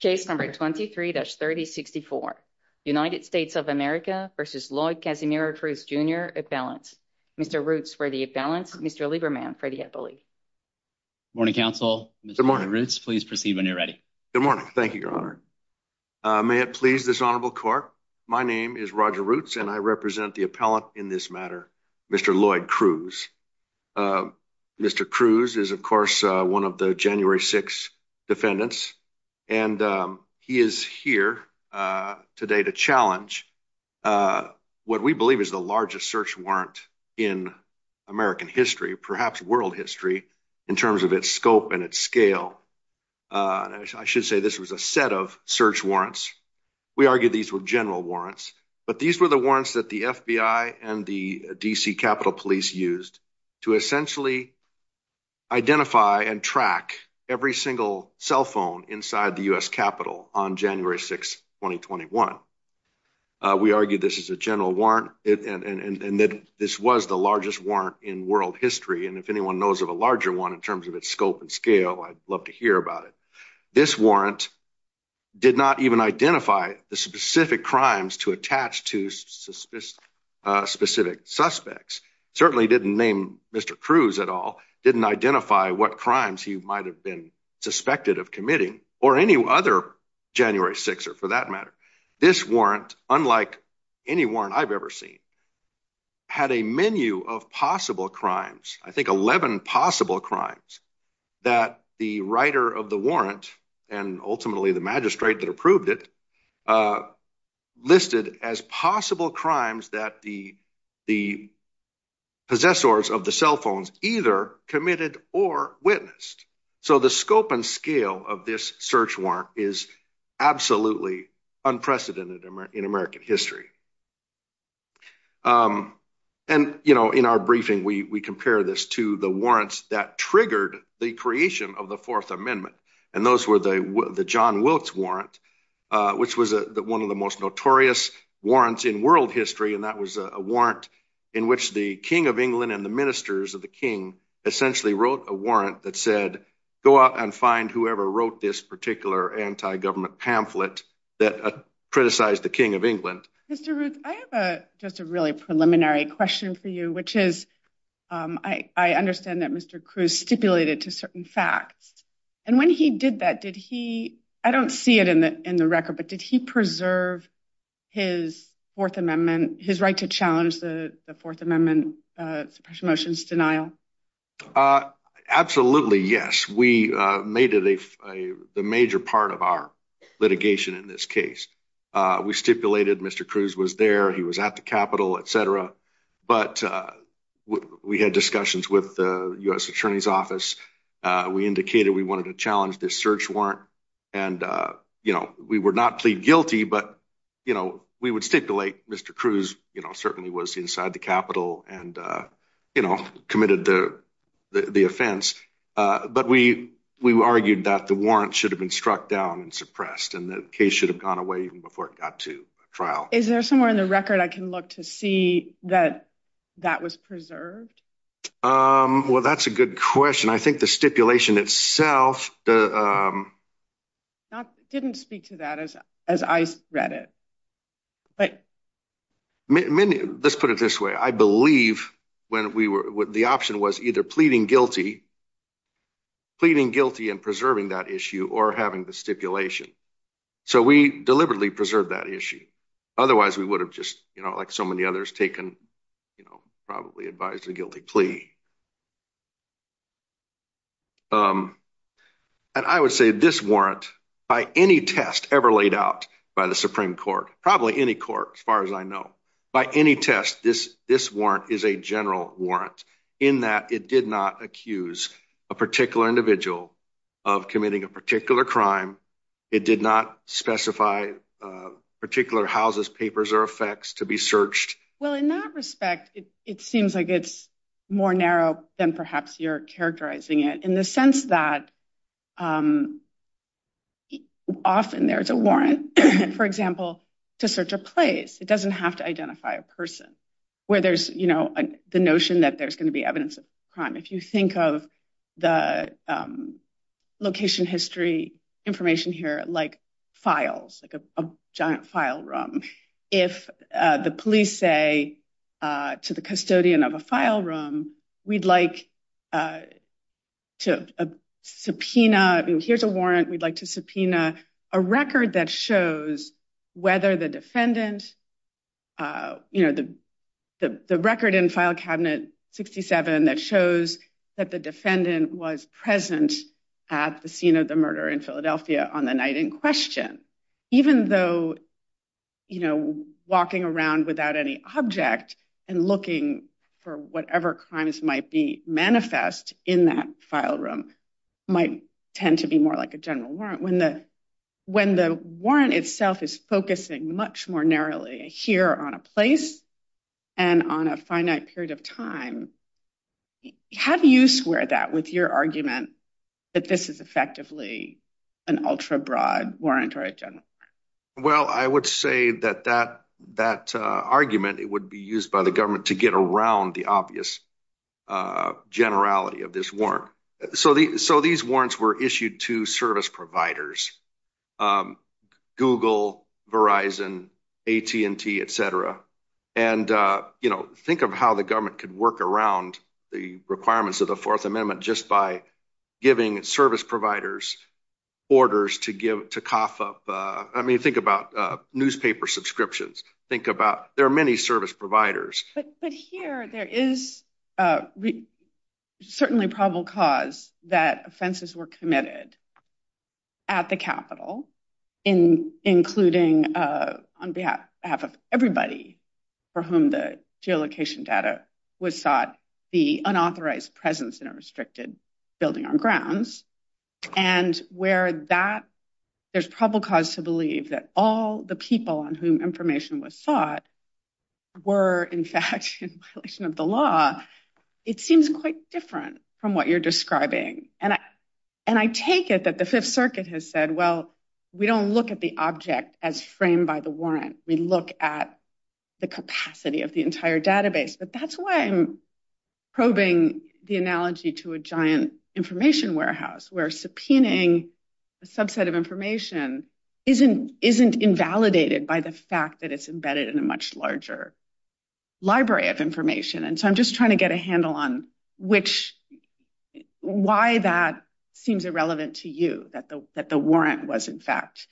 Case number 23-3064. United States of America v. Lloyd Casimir Cruz, Jr. Appellants. Mr. Roots for the appellants. Mr. Lieberman for the appellate. Morning, counsel. Good morning. Mr. Roots, please proceed when you're ready. Good morning. Thank you, your honor. May it please this honorable court, my name is Roger Roots and I represent the appellant in this matter, Mr. Lloyd Cruz. Mr. Cruz is, of course, one of the January 6th defendants and he is here today to challenge what we believe is the largest search warrant in American history, perhaps world history, in terms of its scope and its scale. I should say this was a set of search warrants. We argue these were general warrants, but these were the warrants that the FBI and the D.C. Capitol Police used to essentially identify and track every single cell phone inside the U.S. Capitol on January 6, 2021. We argue this is a general warrant and that this was the largest warrant in world history, and if anyone knows of a larger one in terms of its scope and scale, I'd love to hear about it. This warrant did not even identify the specific crimes to attach to specific suspects, certainly didn't name Mr. Cruz at all, didn't identify what crimes he might have been suspected of committing or any other January 6th, for that matter. This warrant, unlike any warrant I've ever seen, had a menu of possible crimes, I think 11 possible crimes, that the writer of the warrant and ultimately the magistrate that approved it listed as possible crimes that the possessors of the cell phones either committed or witnessed. So the scope and scale of this search warrant is absolutely unprecedented in American history. And, you know, in our briefing, we compare this to the warrants that triggered the creation of Fourth Amendment, and those were the John Wilkes warrant, which was one of the most notorious warrants in world history, and that was a warrant in which the King of England and the ministers of the King essentially wrote a warrant that said, go out and find whoever wrote this particular anti-government pamphlet that criticized the King of England. Mr. Ruth, I have just a really preliminary question for you, which is, I understand that Mr. Cruz stipulated to certain facts, and when he did that, did he, I don't see it in the record, but did he preserve his Fourth Amendment, his right to challenge the Fourth Amendment suppression motions denial? Absolutely, yes. We made it a major part of our litigation in this case. We stipulated Mr. Cruz was there, he was at the Capitol, etc. But we had discussions with the U.S. Attorney's Office, we indicated we wanted to challenge this search warrant, and, you know, we were not plead guilty, but, you know, we would stipulate Mr. Cruz, you know, certainly was inside the Capitol and, you know, committed the offense. But we argued that the warrant should have been struck down and suppressed, and the case should have gone away even before it got to trial. Is there somewhere in the record I can look to see that that was preserved? Well, that's a good question. I think the stipulation itself, didn't speak to that as I read it. Let's put it this way. I believe when we were, the option was either pleading guilty, pleading guilty and preserving that issue or having the stipulation. So we deliberately preserved that issue. Otherwise, we would have just, you know, like so many others, taken, you know, probably advised a guilty plea. And I would say this warrant, by any test ever laid out by the Supreme Court, probably any court as far as I know, by any test, this warrant is a general warrant, in that it did not accuse a particular individual of committing a particular crime. It did not specify particular houses, papers or effects to be searched. Well, in that respect, it seems like it's more narrow than perhaps you're characterizing it, in the sense that often there is a warrant, for example, to search a place. It doesn't have to identify a person where there's, you know, the notion that there's going to be evidence of crime. If you think of the location history information here, like files, like a giant file room, if the police say to the custodian of a file room, we'd like to subpoena, here's a warrant, we'd like to subpoena a record that shows whether the defendant, you know, the record in file cabinet 67 that shows that the defendant was present at the scene of the murder in Philadelphia on the night in question, even though, you know, walking around without any object and looking for whatever crimes might be manifest in that file room might tend to be more like a general warrant. When the, when the warrant itself is focusing much more narrowly here on a place and on a finite period of time, how do you square that with your argument that this is effectively an ultra-broad warrant or a general warrant? Well, I would say that that argument, it would be used by the government to get around the obvious generality of this warrant. So these warrants were issued to service providers, Google, Verizon, AT&T, etc. And, you know, think of how the government could work around the requirements of the Fourth Amendment just by giving service providers orders to give, to cough up, I mean, think about newspaper subscriptions, think about, there are many service providers. But here there is certainly probable cause that offenses were committed at the Capitol, including on behalf of everybody for whom the geolocation data was sought, the unauthorized presence in a restricted building on grounds. And where that, there's probable cause to believe that all the people on whom information was sought were in fact in violation of the law. It seems quite different from what you're describing. And I take it that the Fifth Circuit has said, well, we don't look at the object as framed by the warrant. We look at the capacity of the entire database. But that's why I'm probing the analogy to a giant information warehouse where subpoenaing a subset of information isn't invalidated by the fact that it's embedded in a much larger library of information. And so I'm just trying to get a handle on which, why that seems irrelevant to you, that the warrant was in fact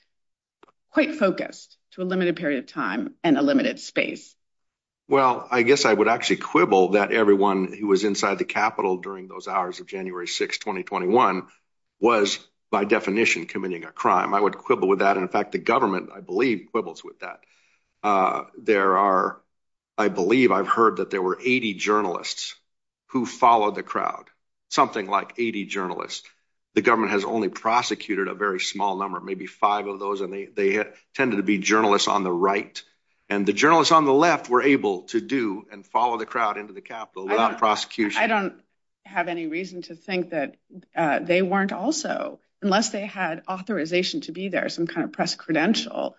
quite focused to a limited period of time and a limited space. Well, I guess I would actually quibble that everyone who was inside the Capitol during those hours of January 6, 2021 was by definition committing a crime. I would quibble with that. And in fact, the government, I believe, quibbles with that. There are, I believe I've heard that there were 80 journalists who followed the crowd, something like 80 journalists. The government has only prosecuted a very small number, maybe five of those. And they tended to be journalists on the right. And the journalists on the left were able to do and follow the crowd into the Capitol without prosecution. I don't have any reason to think that they weren't also, unless they had authorization to be there, some kind of press credential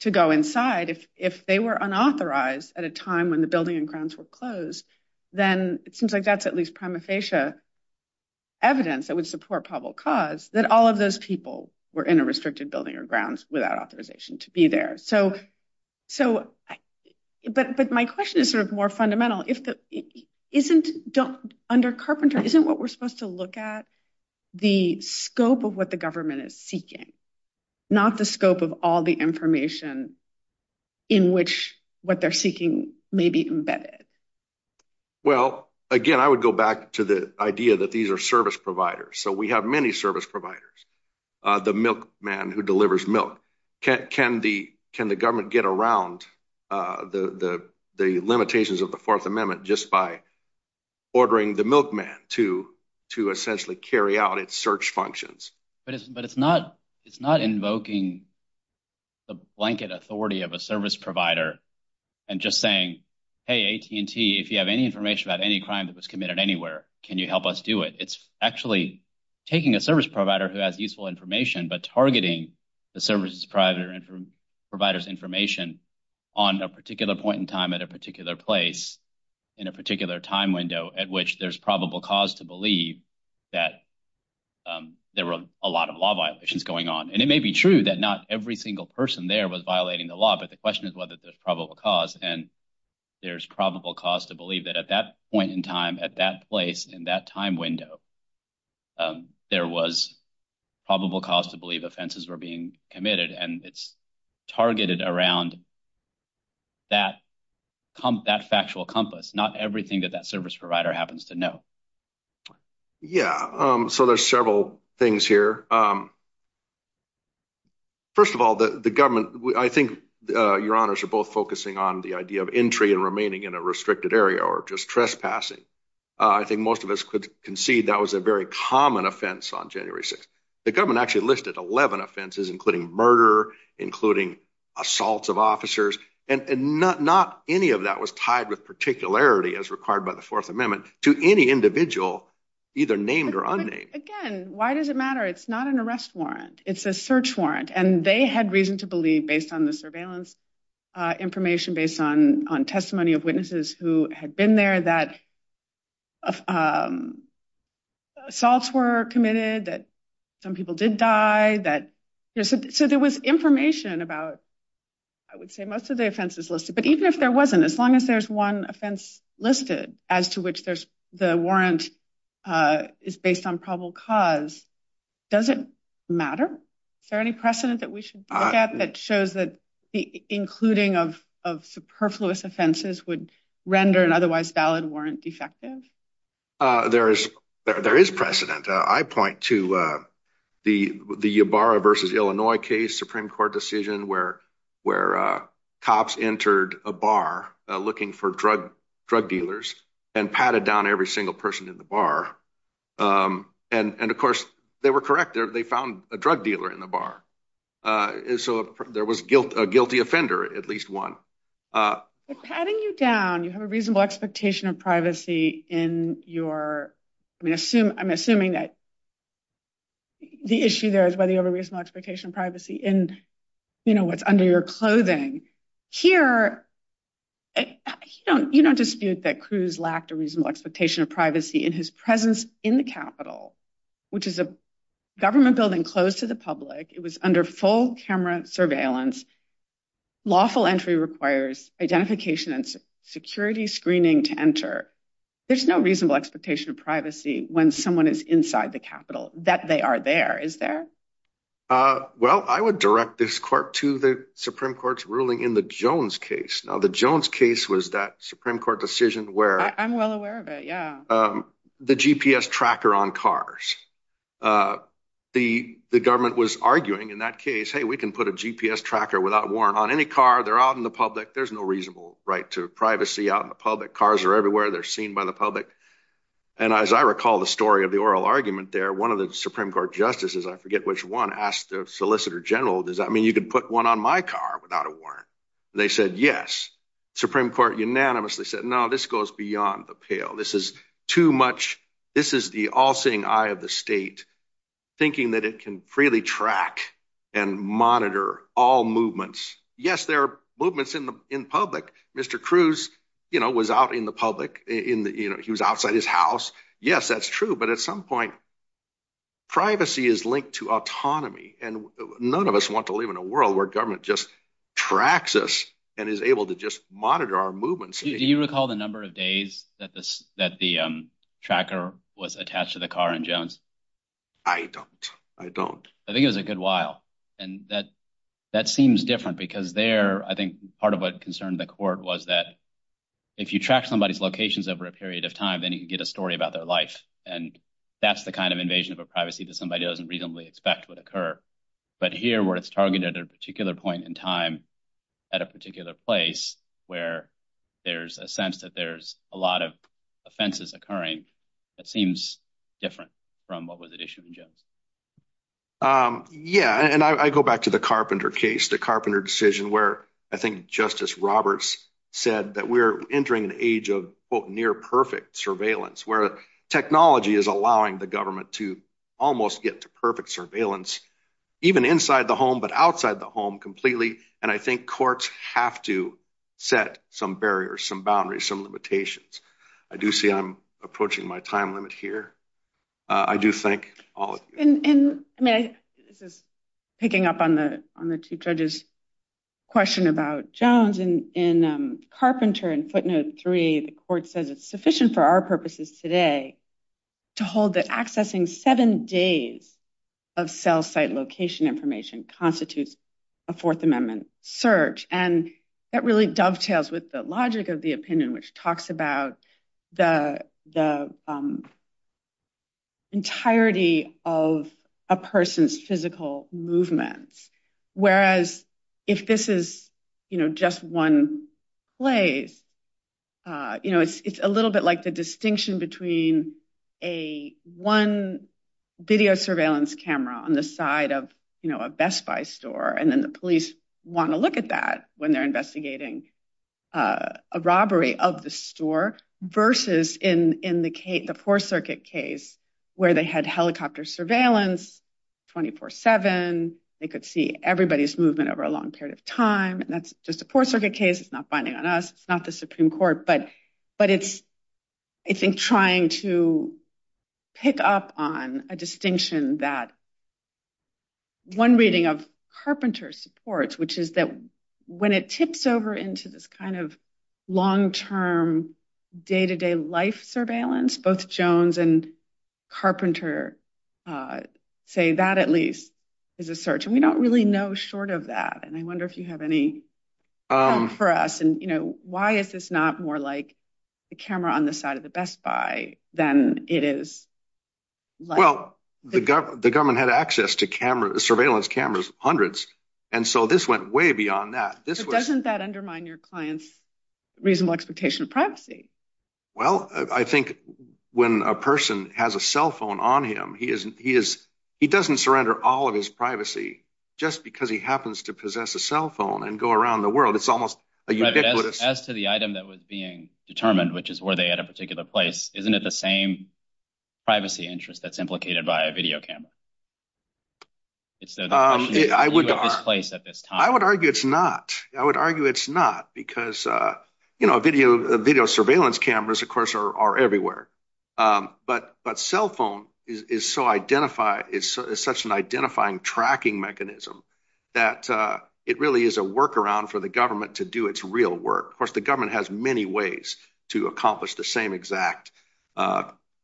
to go inside. If they were unauthorized at a time when the building and grounds were closed, then it seems like that's at least prima facie evidence that would support probable cause that all of those people were in a restricted building or grounds without authorization to be there. But my question is sort of more fundamental. Under Carpenter, isn't what we're supposed to look at the scope of what the government is seeking, not the scope of all the information in which what they're seeking may be embedded? Well, again, I would go back to the idea that these are service providers. So we have many service providers, the milk man who delivers milk. Can the government get around the limitations of the Fourth Amendment just by ordering the milkman to essentially carry out its search functions? But it's not invoking the blanket authority of a service provider and just saying, hey, AT&T, if you have any information about any crime that was committed anywhere, can you help us do it? It's actually taking a service provider who has useful information but targeting the service provider's information on a particular point in time, at a particular place, in a particular time window, at which there's probable cause to believe that there were a lot of law violations going on. And it may be true that not every single person there was violating the law, but the question is whether there's probable cause. And there's probable cause to believe that at that point in time, at that place, in that time window, there was probable cause to believe offenses were being committed. And it's targeted around that factual compass, not everything that that service provider happens to know. Yeah, so there's several things here. First of all, the government, I think your honors are both focusing on the idea of entry and remaining in a restricted area or just trespassing. I think most of us could concede that was a very common offense on January 6th. The government actually listed 11 offenses, including murder, including assaults of officers, and not any of that was tied with particularity, as required by the Fourth Amendment, to any individual, either named or unnamed. Again, why does it matter? It's not an arrest warrant. It's a search warrant. And they had reason to believe, based on the surveillance information, based on testimony of witnesses who had been there that assaults were committed, that some people did die. So there was information about, I would say, most of the offenses listed. But even if there wasn't, as long as there's one offense listed as to which the warrant is based on probable cause, does it matter? Is there any precedent that we should look at that shows that the including of superfluous offenses would render an otherwise valid warrant defective? There is precedent. I point to the Ybarra versus Illinois case, Supreme Court decision, where cops entered a bar looking for drug dealers and patted down every single person in the bar. And of course, they were correct. They found a drug dealer in the bar. And so there was a guilty offender, at least one. Patting you down, you have a reasonable expectation of privacy in your, I mean, I'm assuming that the issue there is whether you have a reasonable expectation of privacy in what's under your clothing. Here, you don't dispute that Cruz lacked a reasonable expectation of privacy in his presence in the Capitol, which is a government building closed to the public. It was under full camera surveillance. Lawful entry requires identification and security screening to enter. There's no reasonable expectation of privacy when someone is inside the Capitol, that they are there, is there? Well, I would direct this court to the Supreme Court's ruling in the Jones case. Now, the Jones case was that Supreme Court decision where- I'm well aware of it, yeah. The GPS tracker on cars. The government was arguing in that case, hey, we can put a GPS tracker without warrant on any car. They're out in the public. There's no reasonable right to privacy out in the public. Cars are everywhere. They're seen by the public. And as I recall the story of the oral argument there, one of the Supreme Court justices, I forget which one, asked the Solicitor General, does that mean you can put one on my car without a warrant? They said, yes. Supreme Court unanimously said, no, this goes beyond the pale. This is too much. This is the all-seeing eye of the state thinking that it can freely track and monitor all movements. Yes, there are movements in public. Mr. Cruz was out in the public. He was outside his house. Yes, that's true. But at some point, privacy is linked to autonomy. And is able to just monitor our movements. Do you recall the number of days that the tracker was attached to the car in Jones? I don't. I don't. I think it was a good while. And that seems different because there, I think part of what concerned the court was that if you track somebody's locations over a period of time, then you can get a story about their life. And that's the kind of invasion of a privacy that somebody doesn't reasonably expect would occur. But here where it's targeted at a particular point in time, at a particular place where there's a sense that there's a lot of offenses occurring, that seems different from what was issued in Jones. Yeah. And I go back to the Carpenter case, the Carpenter decision where I think Justice Roberts said that we're entering an age of near perfect surveillance where technology is allowing the government to almost get to perfect surveillance, even inside the home, but outside the home completely. And I think courts have to set some barriers, some boundaries, some limitations. I do see I'm approaching my time limit here. I do thank all of you. And I mean, this is picking up on the two judges question about Jones and Carpenter and footnote three, the court says it's sufficient for our purposes today to hold that accessing seven days of cell site location information constitutes a fourth amendment search. And that really dovetails with the logic of the opinion, which talks about the entirety of a person's physical movements. Whereas if this is, you know, just one place, you know, it's a little bit like the distinction between a one video surveillance camera on the side of, you know, a Best Buy store. And then the police want to look at that when they're investigating a robbery of the store versus in the four circuit case where they had helicopter surveillance 24 seven, they could see everybody's movement over a long period of time. And that's just a four circuit case. It's not binding on us. It's not the Supreme Court. But it's, I think, trying to pick up on a distinction that one reading of Carpenter supports, which is that when it tips over into this kind of long-term day-to-day life surveillance, both Jones and Carpenter say that at least is a search. And we don't really know short of that. And I wonder if you have any for us and, you know, why is this not more like a camera on the side of the Best Buy than it is? Well, the government had access to surveillance cameras, hundreds. And so this went way beyond that. Doesn't that undermine your client's reasonable expectation of privacy? Well, I think when a person has a cell phone on him, he doesn't surrender all of his privacy just because he happens to possess a cell phone and go around the world. It's almost a ubiquitous. As to the item that was being determined, which is where they had a particular place, isn't it the same privacy interest that's implicated by a video camera? I would argue it's not. I would argue it's not because video surveillance cameras, of course, are everywhere. But cell phone is such an identifying tracking mechanism that it really is a workaround for the government to do its real work. Of course, the government has many ways to accomplish the same exact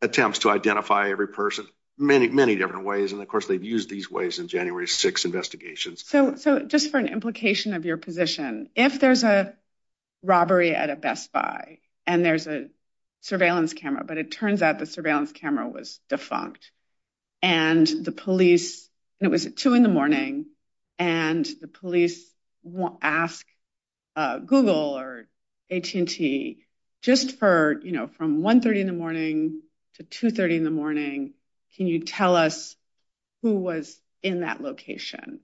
attempts to identify every person, many, many different ways. And of course, they've used these ways in January 6th investigations. So just for an implication of your position, if there's a robbery at a Best Buy and there's a surveillance camera, but it turns out the surveillance camera was defunct and it was at 2 in the morning and the police asked Google or AT&T, just from 1.30 in the morning to 2.30 in the morning, can you tell us who was in that location?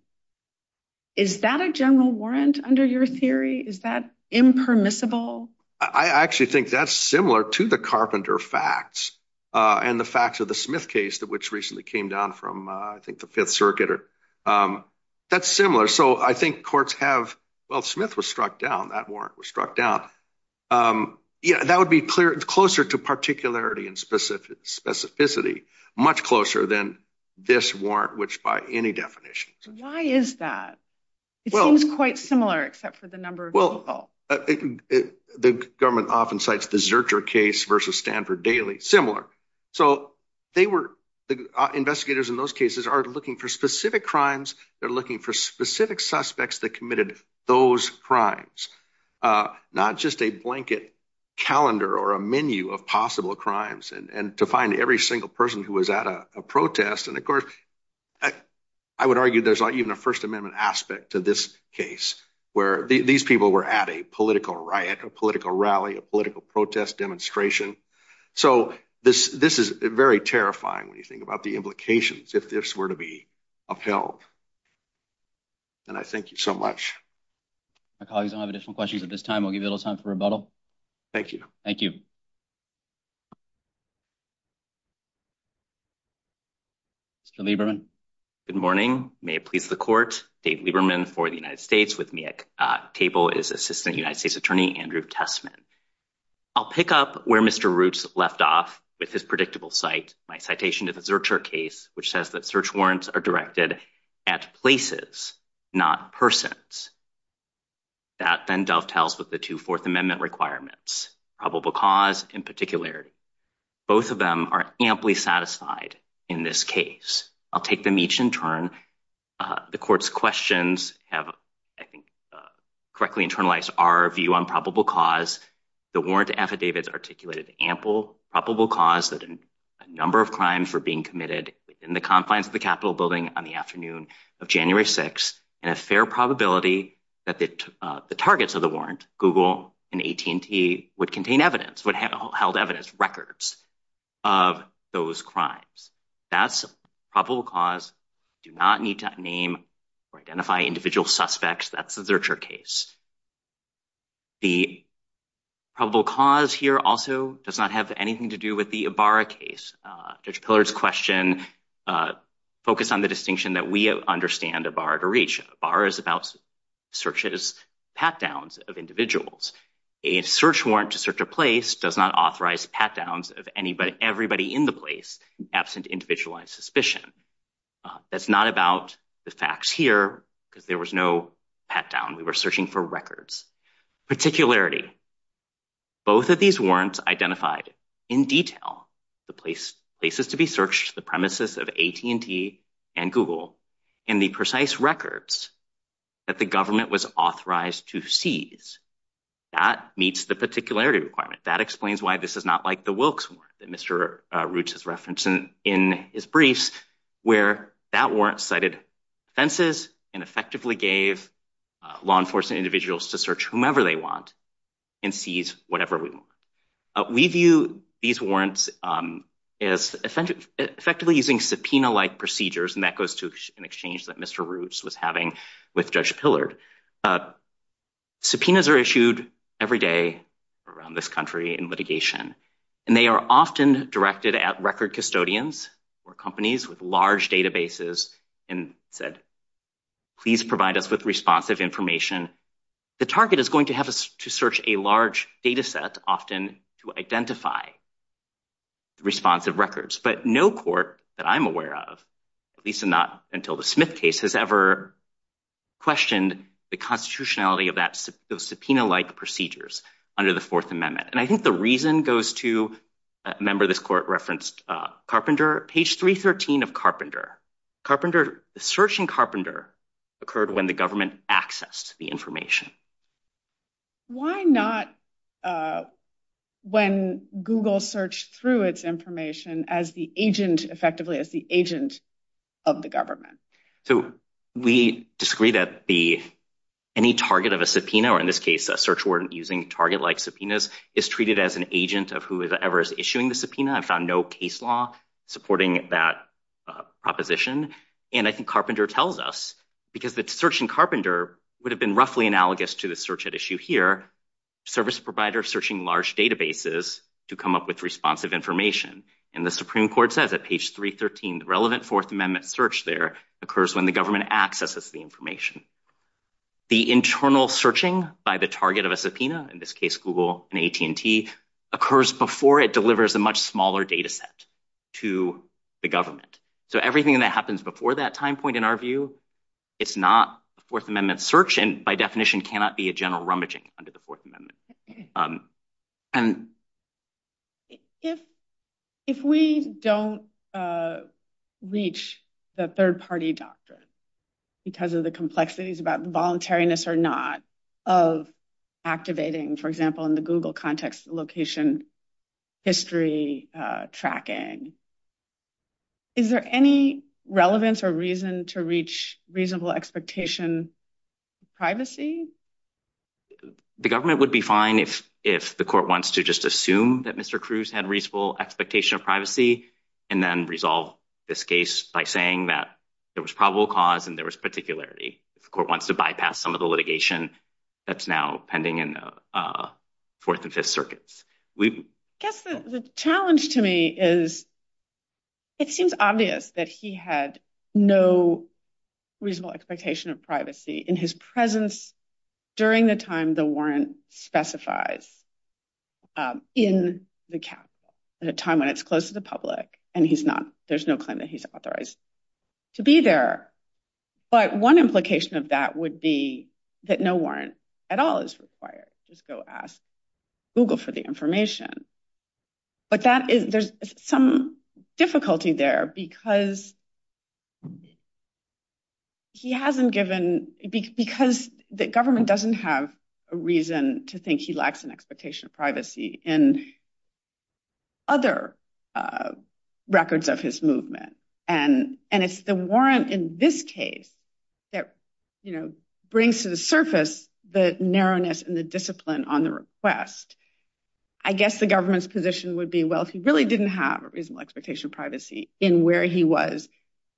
Is that a general warrant under your theory? Is that impermissible? I actually think that's similar to the Carpenter facts and the facts of the Smith case, which recently came down from, I think, the Fifth Circuit. That's similar. So I think courts have, well, Smith was struck down, that warrant was struck down. Yeah, that would be closer to particularity and specificity, much closer than this warrant, which by any definition. Why is that? It seems quite similar except for the number of people. The government often cites the Zurcher case versus Stanford Daily, similar. So investigators in those cases are looking for specific crimes. They're looking for specific suspects that those crimes, not just a blanket calendar or a menu of possible crimes, and to find every single person who was at a protest. And of course, I would argue there's not even a First Amendment aspect to this case where these people were at a political riot, a political rally, a political protest demonstration. So this is very terrifying when you think about the implications if this were to be upheld. And I thank you so much. My colleagues don't have additional questions at this time. I'll give you a little time for rebuttal. Thank you. Thank you. Mr. Lieberman. Good morning. May it please the court. Dave Lieberman for the United States with me at table is Assistant United States Attorney Andrew Tessman. I'll pick up where Mr. Roots left off with his predictable site, my citation of the Zurcher case, which says that search warrants are directed at places, not persons. That then dovetails with the two Fourth Amendment requirements, probable cause in particular. Both of them are amply satisfied in this case. I'll take them each in turn. The court's questions have, I think, correctly internalized our view on probable cause. The warrant affidavits articulated ample probable cause that a number of crimes were being committed in the confines of the Capitol building on the afternoon of January 6th and a fair probability that the targets of the warrant, Google and AT&T would contain evidence, would have held evidence records of those crimes. That's probable cause. Do not need to name or identify individual suspects. That's the Zurcher case. The probable cause here also does not have anything to do with the Ibarra case. Judge Pillard's question focused on the distinction that we understand Ibarra to reach. Ibarra is about searches, pat-downs of individuals. A search warrant to search a place does not authorize pat-downs of anybody, everybody in the place absent individualized suspicion. That's not about the facts here because there was no pat-down. We were searching for records. Particularity. Both of these warrants identified in detail the places to be searched, the premises of AT&T and Google, and the precise records that the government was authorized to seize. That meets the particularity requirement. That explains why this is not like the Wilkes warrant that Mr. Roots cited. That warrant cited offenses and effectively gave law enforcement individuals to search whomever they want and seize whatever we want. We view these warrants as effectively using subpoena-like procedures, and that goes to an exchange that Mr. Roots was having with Judge Pillard. Subpoenas are issued every day around this country in litigation, and they are often directed at record custodians or companies with large databases and said, please provide us with responsive information. The target is going to have us to search a large data set often to identify responsive records, but no court that I'm aware of, at least not until the Smith case, has ever questioned the constitutionality of that subpoena-like procedures under the Fourth Amendment. And I think the reason goes to, remember this court referenced Carpenter, page 313 of Carpenter. Carpenter, searching Carpenter occurred when the government accessed the information. Why not when Google searched through its information as the agent, effectively as the agent of the government? So we disagree that any target of a subpoena, or in this case a search warrant using target-like subpoenas, is treated as an agent of whoever is issuing the subpoena. I found no case law supporting that proposition. And I think Carpenter tells us, because the search in Carpenter would have been roughly analogous to the search at issue here, service providers searching large databases to come up with responsive information. And the Supreme Court says at page 313, the relevant Fourth Amendment search there occurs when the government accesses the information. The internal searching by the target of a subpoena, in this case Google and AT&T, occurs before it delivers a much smaller data set to the government. So everything that happens before that time point, in our view, it's not a Fourth Amendment search and by definition cannot be a general rummaging under the Fourth Amendment. If we don't reach the third-party doctrine because of the complexities about the voluntariness or not of activating, for example, in the Google context location history tracking, is there any relevance or reason to reach reasonable expectation of privacy? The government would be fine if the court wants to just assume that Mr. Cruz had reasonable expectation of privacy and then resolve this case by saying there was probable cause and there was particularity. If the court wants to bypass some of the litigation that's now pending in the Fourth and Fifth Circuits. I guess the challenge to me is it seems obvious that he had no reasonable expectation of privacy in his presence during the time the warrant specifies in the capital, at a time when it's public and there's no claim that he's authorized to be there. But one implication of that would be that no warrant at all is required. Just go ask Google for the information. But there's some difficulty there because the government doesn't have a reason to think he had reasonable expectation of privacy in other records of his movement. And it's the warrant in this case that brings to the surface the narrowness and the discipline on the request. I guess the government's position would be, well, if he really didn't have a reasonable expectation of privacy in where he was,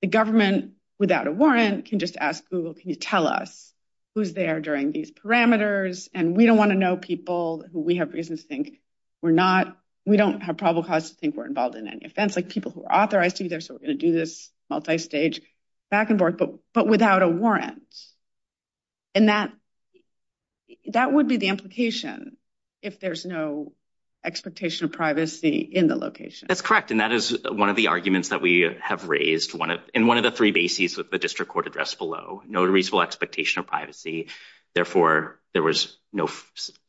the government without a warrant can just ask Google, can you tell us who's there during these parameters? And we don't want to know people who we have reasons to think we're not, we don't have probable cause to think we're involved in any offense, like people who are authorized to be there, so we're going to do this multi-stage back and forth, but without a warrant. And that would be the implication if there's no expectation of privacy in the location. That's correct. And that is one of the arguments that we have raised in one of the three bases with the district court address below, no reasonable expectation of privacy, therefore there was no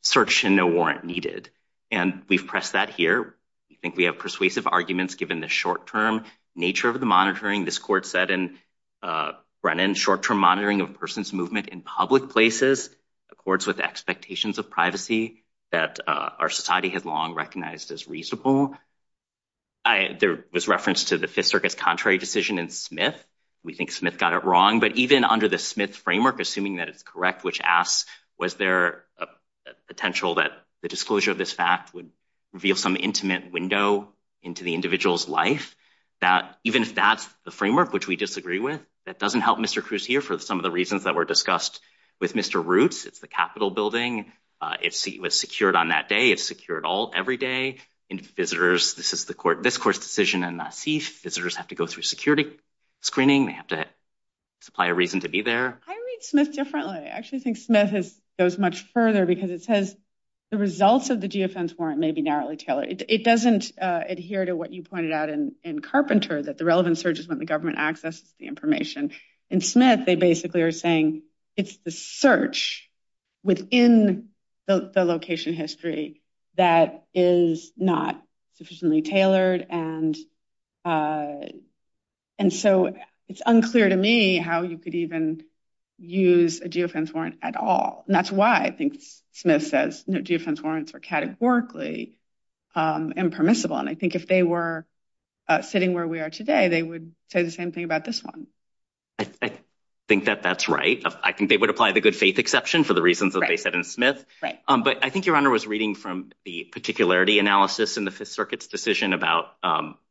search and no warrant needed. And we've pressed that here. We think we have persuasive arguments given the short-term nature of the monitoring. This court said in Brennan, short-term monitoring of a person's movement in public places accords with expectations of privacy that our society has long recognized as reasonable. There was reference to the Fifth Circus contrary decision in Smith. We think Smith got it wrong, but even under the Smith framework, assuming that it's correct, which asks was there a potential that the disclosure of this fact would reveal some intimate window into the individual's life, that even if that's the framework, which we disagree with, that doesn't help Mr. Cruz here for some of the reasons that were discussed with Mr. Roots. It's the Capitol building. It was secured on that day. It's secured all every day. Visitors, this is the court, this court's decision in Nassif. Visitors have to go through security screening. They have to supply a reason to be there. I read Smith differently. I actually think Smith goes much further because it says the results of the GFN's warrant may be narrowly tailored. It doesn't adhere to what you pointed out in Carpenter, that the relevant search is when the government accesses the information. In Smith, they basically are saying it's the search within the location history that is not sufficiently tailored. It's unclear to me how you could even use a GFN's warrant at all. That's why I think Smith says GFN's warrants were categorically impermissible. I think if they were sitting where we are today, they would say the same thing about this one. I think that that's right. I think they would apply the good faith exception for the reasons that they said in Smith. But I think your honor was reading from the particularity analysis in the Fifth Circuit's decision about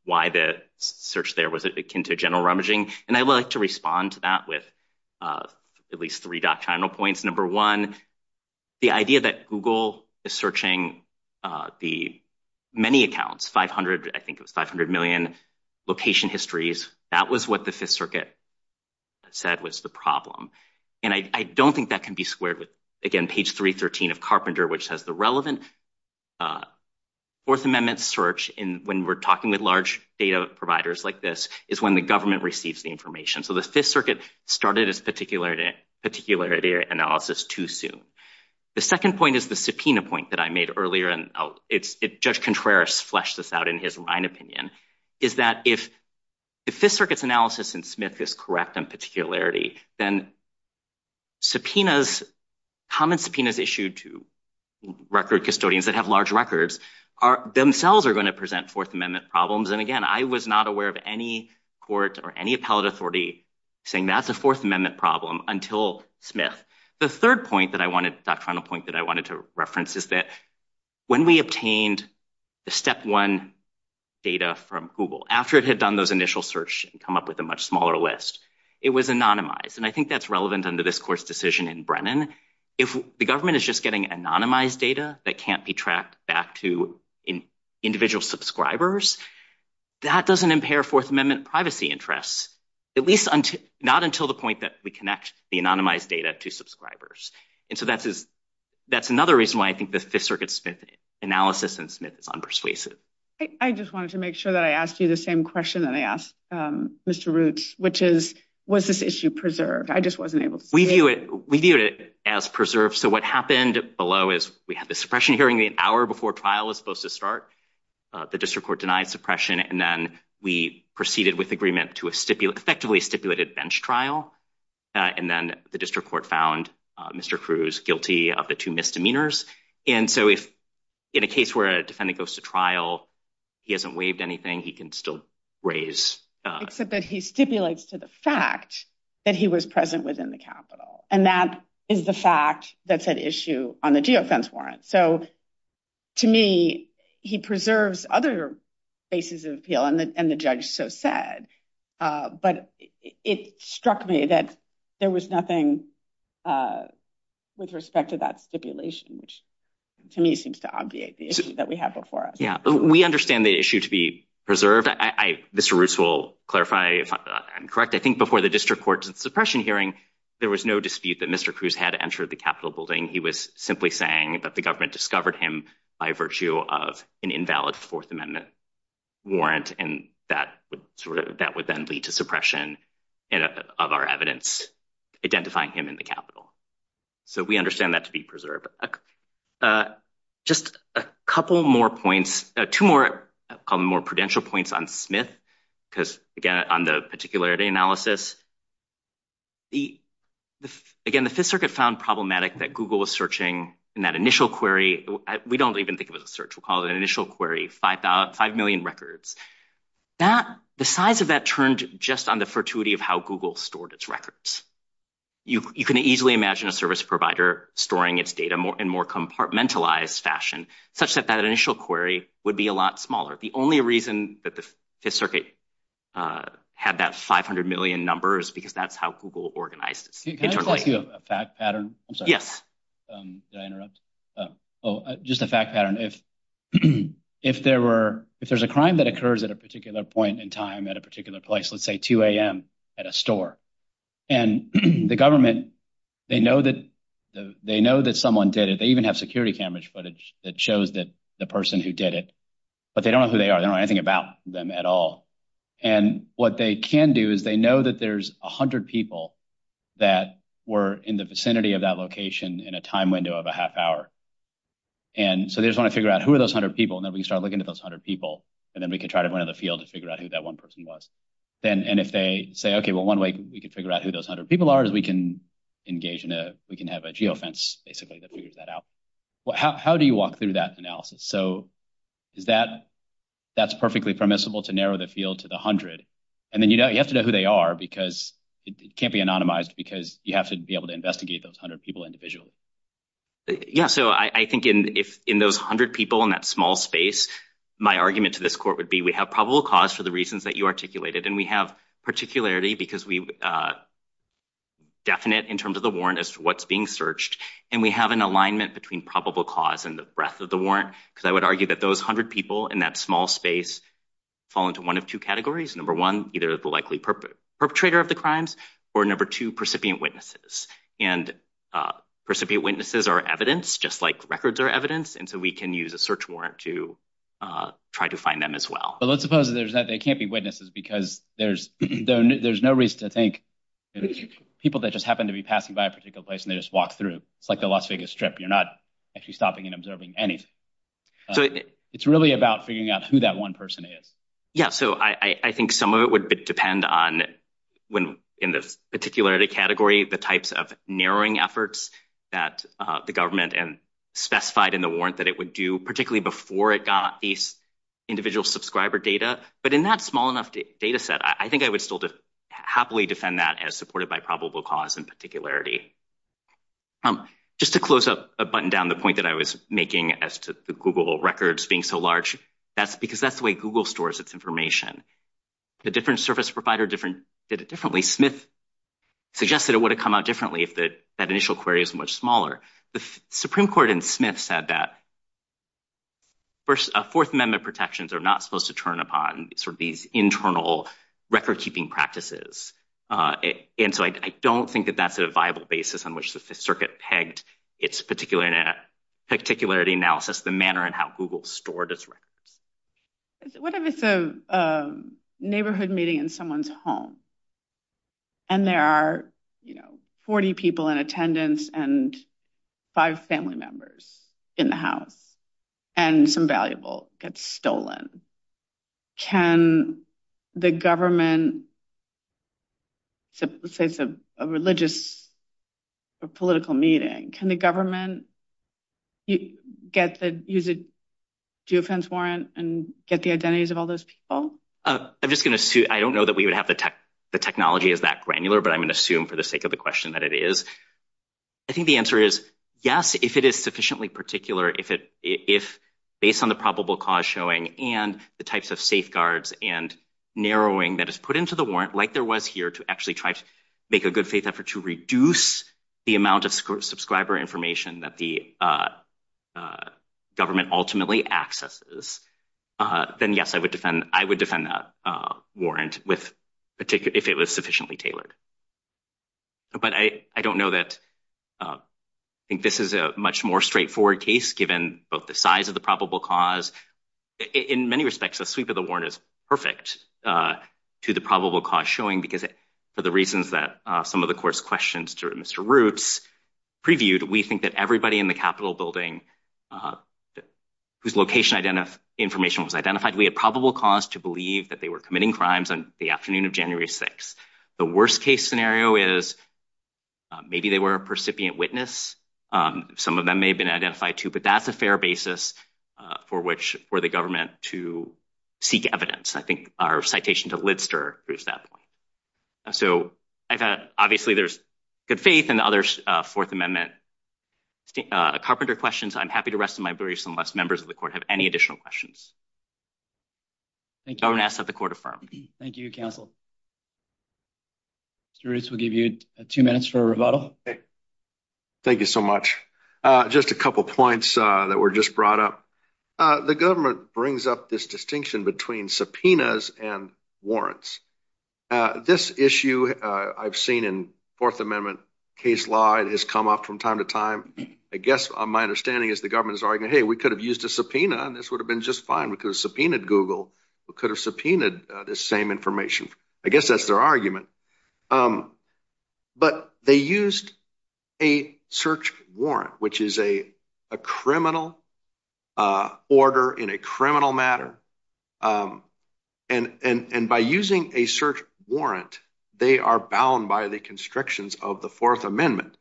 why the search there was akin to general rummaging. I would like to respond to that with at least three doctrinal points. Number one, the idea that Google is searching the many accounts, 500, I think it was 500 million, location histories, that was what the Fifth Circuit said was the problem. And I don't think that can be squared with, again, page 313 of Carpenter, which has the relevant Fourth Amendment search when we're talking with large data providers like this, is when the government receives the information. So the Fifth Circuit started its particularity analysis too soon. The second point is the subpoena point that I made earlier, and Judge Contreras fleshed this out in his Ryan opinion, is that if the Fifth Circuit's analysis in Smith is correct in particularity, then subpoenas, common subpoenas issued to record custodians that have large records themselves are going to present Fourth Amendment problems. And again, I was not aware of any court or any appellate authority saying that's a Fourth Amendment problem until Smith. The third point that I wanted, doctrinal point that I wanted to reference is that when we obtained the step one data from Google, after it had done those initial search and come up with a much smaller list, it was anonymized. And I think that's relevant under this court's decision in Brennan. If the government is just getting anonymized data that can't be tracked back to individual subscribers, that doesn't impair Fourth Amendment privacy interests, at least not until the point that we connect the anonymized data to subscribers. And so that's another reason why I think the Fifth Circuit Smith analysis in Smith is unpersuasive. I just wanted to make sure that I asked you the same question that I asked Mr. Roots, which is, was this issue preserved? I just wasn't able to see it. We viewed it as preserved. So what happened below is we had the suppression hearing an hour before trial was supposed to start. The district court denied suppression. And then we proceeded with agreement to effectively stipulate a bench trial. And then the district court found Mr. Cruz guilty of the two misdemeanors. And so if in a case where a defendant goes to trial, he hasn't waived anything, he can still raise... Except that he stipulates to the fact that he was present within the capital. And that is the fact that's at issue on the geofence warrant. So to me, he preserves other bases of appeal, and the judge so said. But it struck me that there was nothing with respect to that stipulation, which to me seems to obviate the issue that we have before us. Yeah, we understand the issue to be preserved. Mr. Roots will clarify if I'm correct. I think before the district court suppression hearing, there was no dispute that Mr. Cruz had entered the Capitol building. He was simply saying that the government discovered him by virtue of an invalid Fourth Amendment warrant. And that would then lead to suppression of our evidence identifying him in the Capitol. So we understand that to be preserved. Just a couple more points, two more, I'll call them more prudential points on Smith, because again, on the particularity analysis. Again, the Fifth Circuit found problematic that Google was searching in that initial query. We don't even think it was a just on the fortuity of how Google stored its records. You can easily imagine a service provider storing its data in a more compartmentalized fashion, such that that initial query would be a lot smaller. The only reason that the Fifth Circuit had that 500 million numbers, because that's how Google organized its data. Can I ask you a fact pattern? I'm sorry. Yes. Did I interrupt? Oh, just a fact pattern. If there's a crime that occurs at a particular point in time, at a particular place, let's say 2 a.m. at a store. And the government, they know that someone did it. They even have security camera footage that shows that the person who did it. But they don't know who they are. They don't know anything about them at all. And what they can do is they know that there's 100 people that were in the vicinity of that location in a time window of a half hour. And so they just want to figure out who are those 100 people. And then we can start looking at those 100 people. And then we can try to run in the field to figure out who that one person was. And if they say, OK, well, one way we can figure out who those 100 people are is we can engage in a—we can have a geofence, basically, that figures that out. How do you walk through that analysis? So is that—that's perfectly permissible to narrow the field to the 100. And then you have to know who they are because it can't be anonymized because you have to be able to investigate those 100 people individually. Yeah. So I think if in those 100 people in that space, my argument to this court would be we have probable cause for the reasons that you articulated. And we have particularity because we—definite in terms of the warrant as to what's being searched. And we have an alignment between probable cause and the breadth of the warrant because I would argue that those 100 people in that small space fall into one of two categories. Number one, either the likely perpetrator of the crimes or number two, recipient witnesses. And recipient witnesses are evidence just like records are evidence. And so we can use a search warrant to try to find them as well. But let's suppose that they can't be witnesses because there's—there's no reason to think people that just happen to be passing by a particular place and they just walk through. It's like the Las Vegas Strip. You're not actually stopping and observing anything. So it's really about figuring out who that one person is. Yeah. So I think some of it would depend on when in this particular category, the types of narrowing efforts that the government specified in the warrant that it would do, particularly before it got these individual subscriber data. But in that small enough data set, I think I would still happily defend that as supported by probable cause and particularity. Just to close up a button down the point that I was making as to the Google records being so large, that's because that's the way Google stores its information. The different service provider different—did it differently. Smith suggested it would have come out differently if that initial query is much smaller. The Supreme Court in Smith said that First—Fourth Amendment protections are not supposed to turn upon sort of these internal record-keeping practices. And so I don't think that that's a viable basis on which the Fifth Circuit pegged its particularity analysis, the manner in how Google stored its records. What if it's a neighborhood meeting in someone's home and there are, you know, 40 people in attendance and five family members in the house and some valuable gets stolen? Can the government—let's say it's a religious or political meeting—can the government you get the—use a due offense warrant and get the identities of all those people? I'm just going to—I don't know that we would have the tech—the technology is that granular, but I'm going to assume for the sake of the question that it is. I think the answer is yes, if it is sufficiently particular, if it—if based on the probable cause showing and the types of safeguards and narrowing that is put into the warrant like there was here to actually try to to reduce the amount of subscriber information that the government ultimately accesses, then yes, I would defend—I would defend that warrant with particular—if it was sufficiently tailored. But I don't know that—I think this is a much more straightforward case given both the size of the probable cause. In many respects, the sweep of the warrant is perfect to the some of the court's questions to Mr. Roots previewed. We think that everybody in the Capitol building whose location identify—information was identified, we had probable cause to believe that they were committing crimes on the afternoon of January 6th. The worst case scenario is maybe they were a percipient witness. Some of them may have been identified too, but that's a fair basis for which for the government to seek evidence. I think our citation to Lidster proves that point. So, I've had—obviously, there's good faith in the other Fourth Amendment carpenter questions. I'm happy to rest my briefs unless members of the court have any additional questions. Thank you. Government asks that the court affirm. Thank you, counsel. Mr. Roots, we'll give you two minutes for a rebuttal. Thank you so much. Just a couple points that were just brought up. The government brings up this distinction between subpoenas and warrants. This issue I've seen in Fourth Amendment case law. It has come up from time to time. I guess my understanding is the government is arguing, hey, we could have used a subpoena and this would have been just fine. We could have subpoenaed Google. We could have subpoenaed this same information. I guess that's their argument. But they used a search warrant, which is a criminal order in a criminal matter. And by using a search warrant, they are bound by the constrictions of the Fourth Amendment.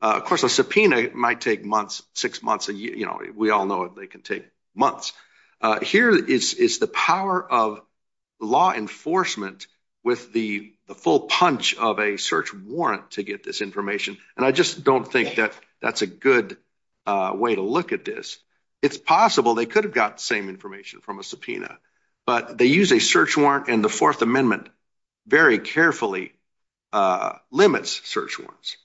Of course, a subpoena might take months, six months. We all know they can take months. Here is the power of law enforcement with the full punch of a search warrant to get this information. And I just don't think that that's a good way to look at this. It's possible they could have got the same information from a subpoena, but they use a search warrant and the Fourth Amendment very carefully limits search warrants.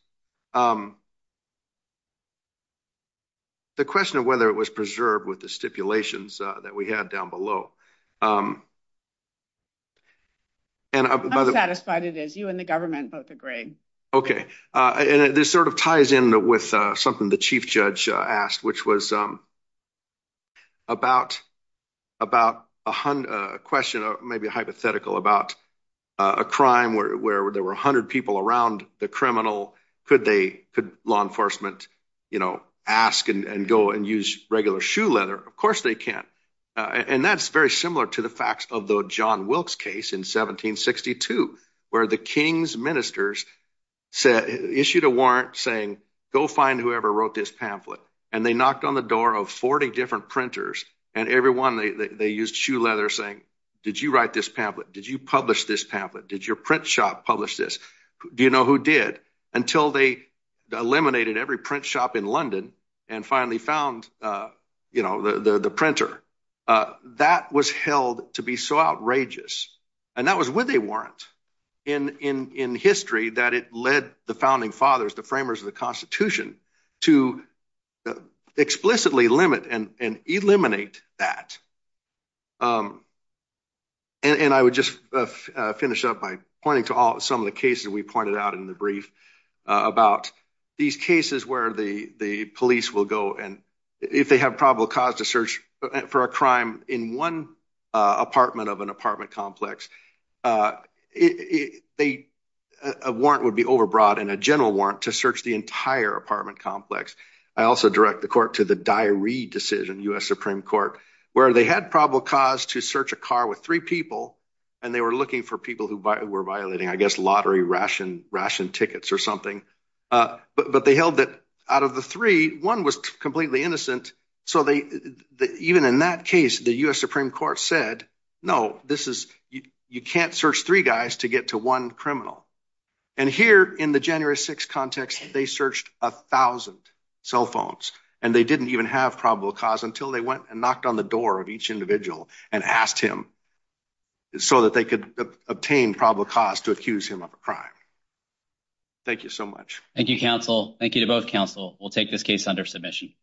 The question of whether it was preserved with the stipulations that we had down below. I'm satisfied it is. You and the government both agree. Okay. And this sort of ties in with something the chief judge asked, which was about a question, maybe a hypothetical, about a crime where there were 100 people around the criminal. Could law enforcement ask and go and use regular shoe leather? Of course, they can. And that's very similar to the facts of the John Wilkes case in 1762, where the king's ministers issued a warrant saying, go find whoever wrote this pamphlet. And they knocked on the door of 40 different printers, and everyone, they used shoe leather saying, did you write this pamphlet? Did you publish this pamphlet? Did your print shop publish this? Do you know who did? Until they eliminated every print shop in London and finally found the printer. That was held to be so outrageous. And that was with a warrant in history that it led the founding fathers, the framers of the Constitution, to explicitly limit and eliminate that. And I would just finish up by pointing to some of the cases we pointed out in the brief about these cases where the police will go, and if they have probable cause to search for a crime in one apartment of an apartment complex, a warrant would be overbrought, and a general warrant to search the entire apartment complex. I also direct the court to the diary decision, U.S. Supreme Court, where they had probable cause to search a car with three people, and they were looking for people who were violating, I guess, lottery ration tickets or something. But they held that out of the three, one was completely innocent. So even in that case, the U.S. Supreme Court said, no, you can't search three guys to get to one criminal. And here in the January 6th context, they searched a thousand cell phones, and they didn't even have probable cause until they went and knocked on the door of each individual and asked him so that they could obtain probable cause to accuse him of a crime. Thank you so much. Thank you, counsel. Thank you to both counsel. We'll take this case under submission.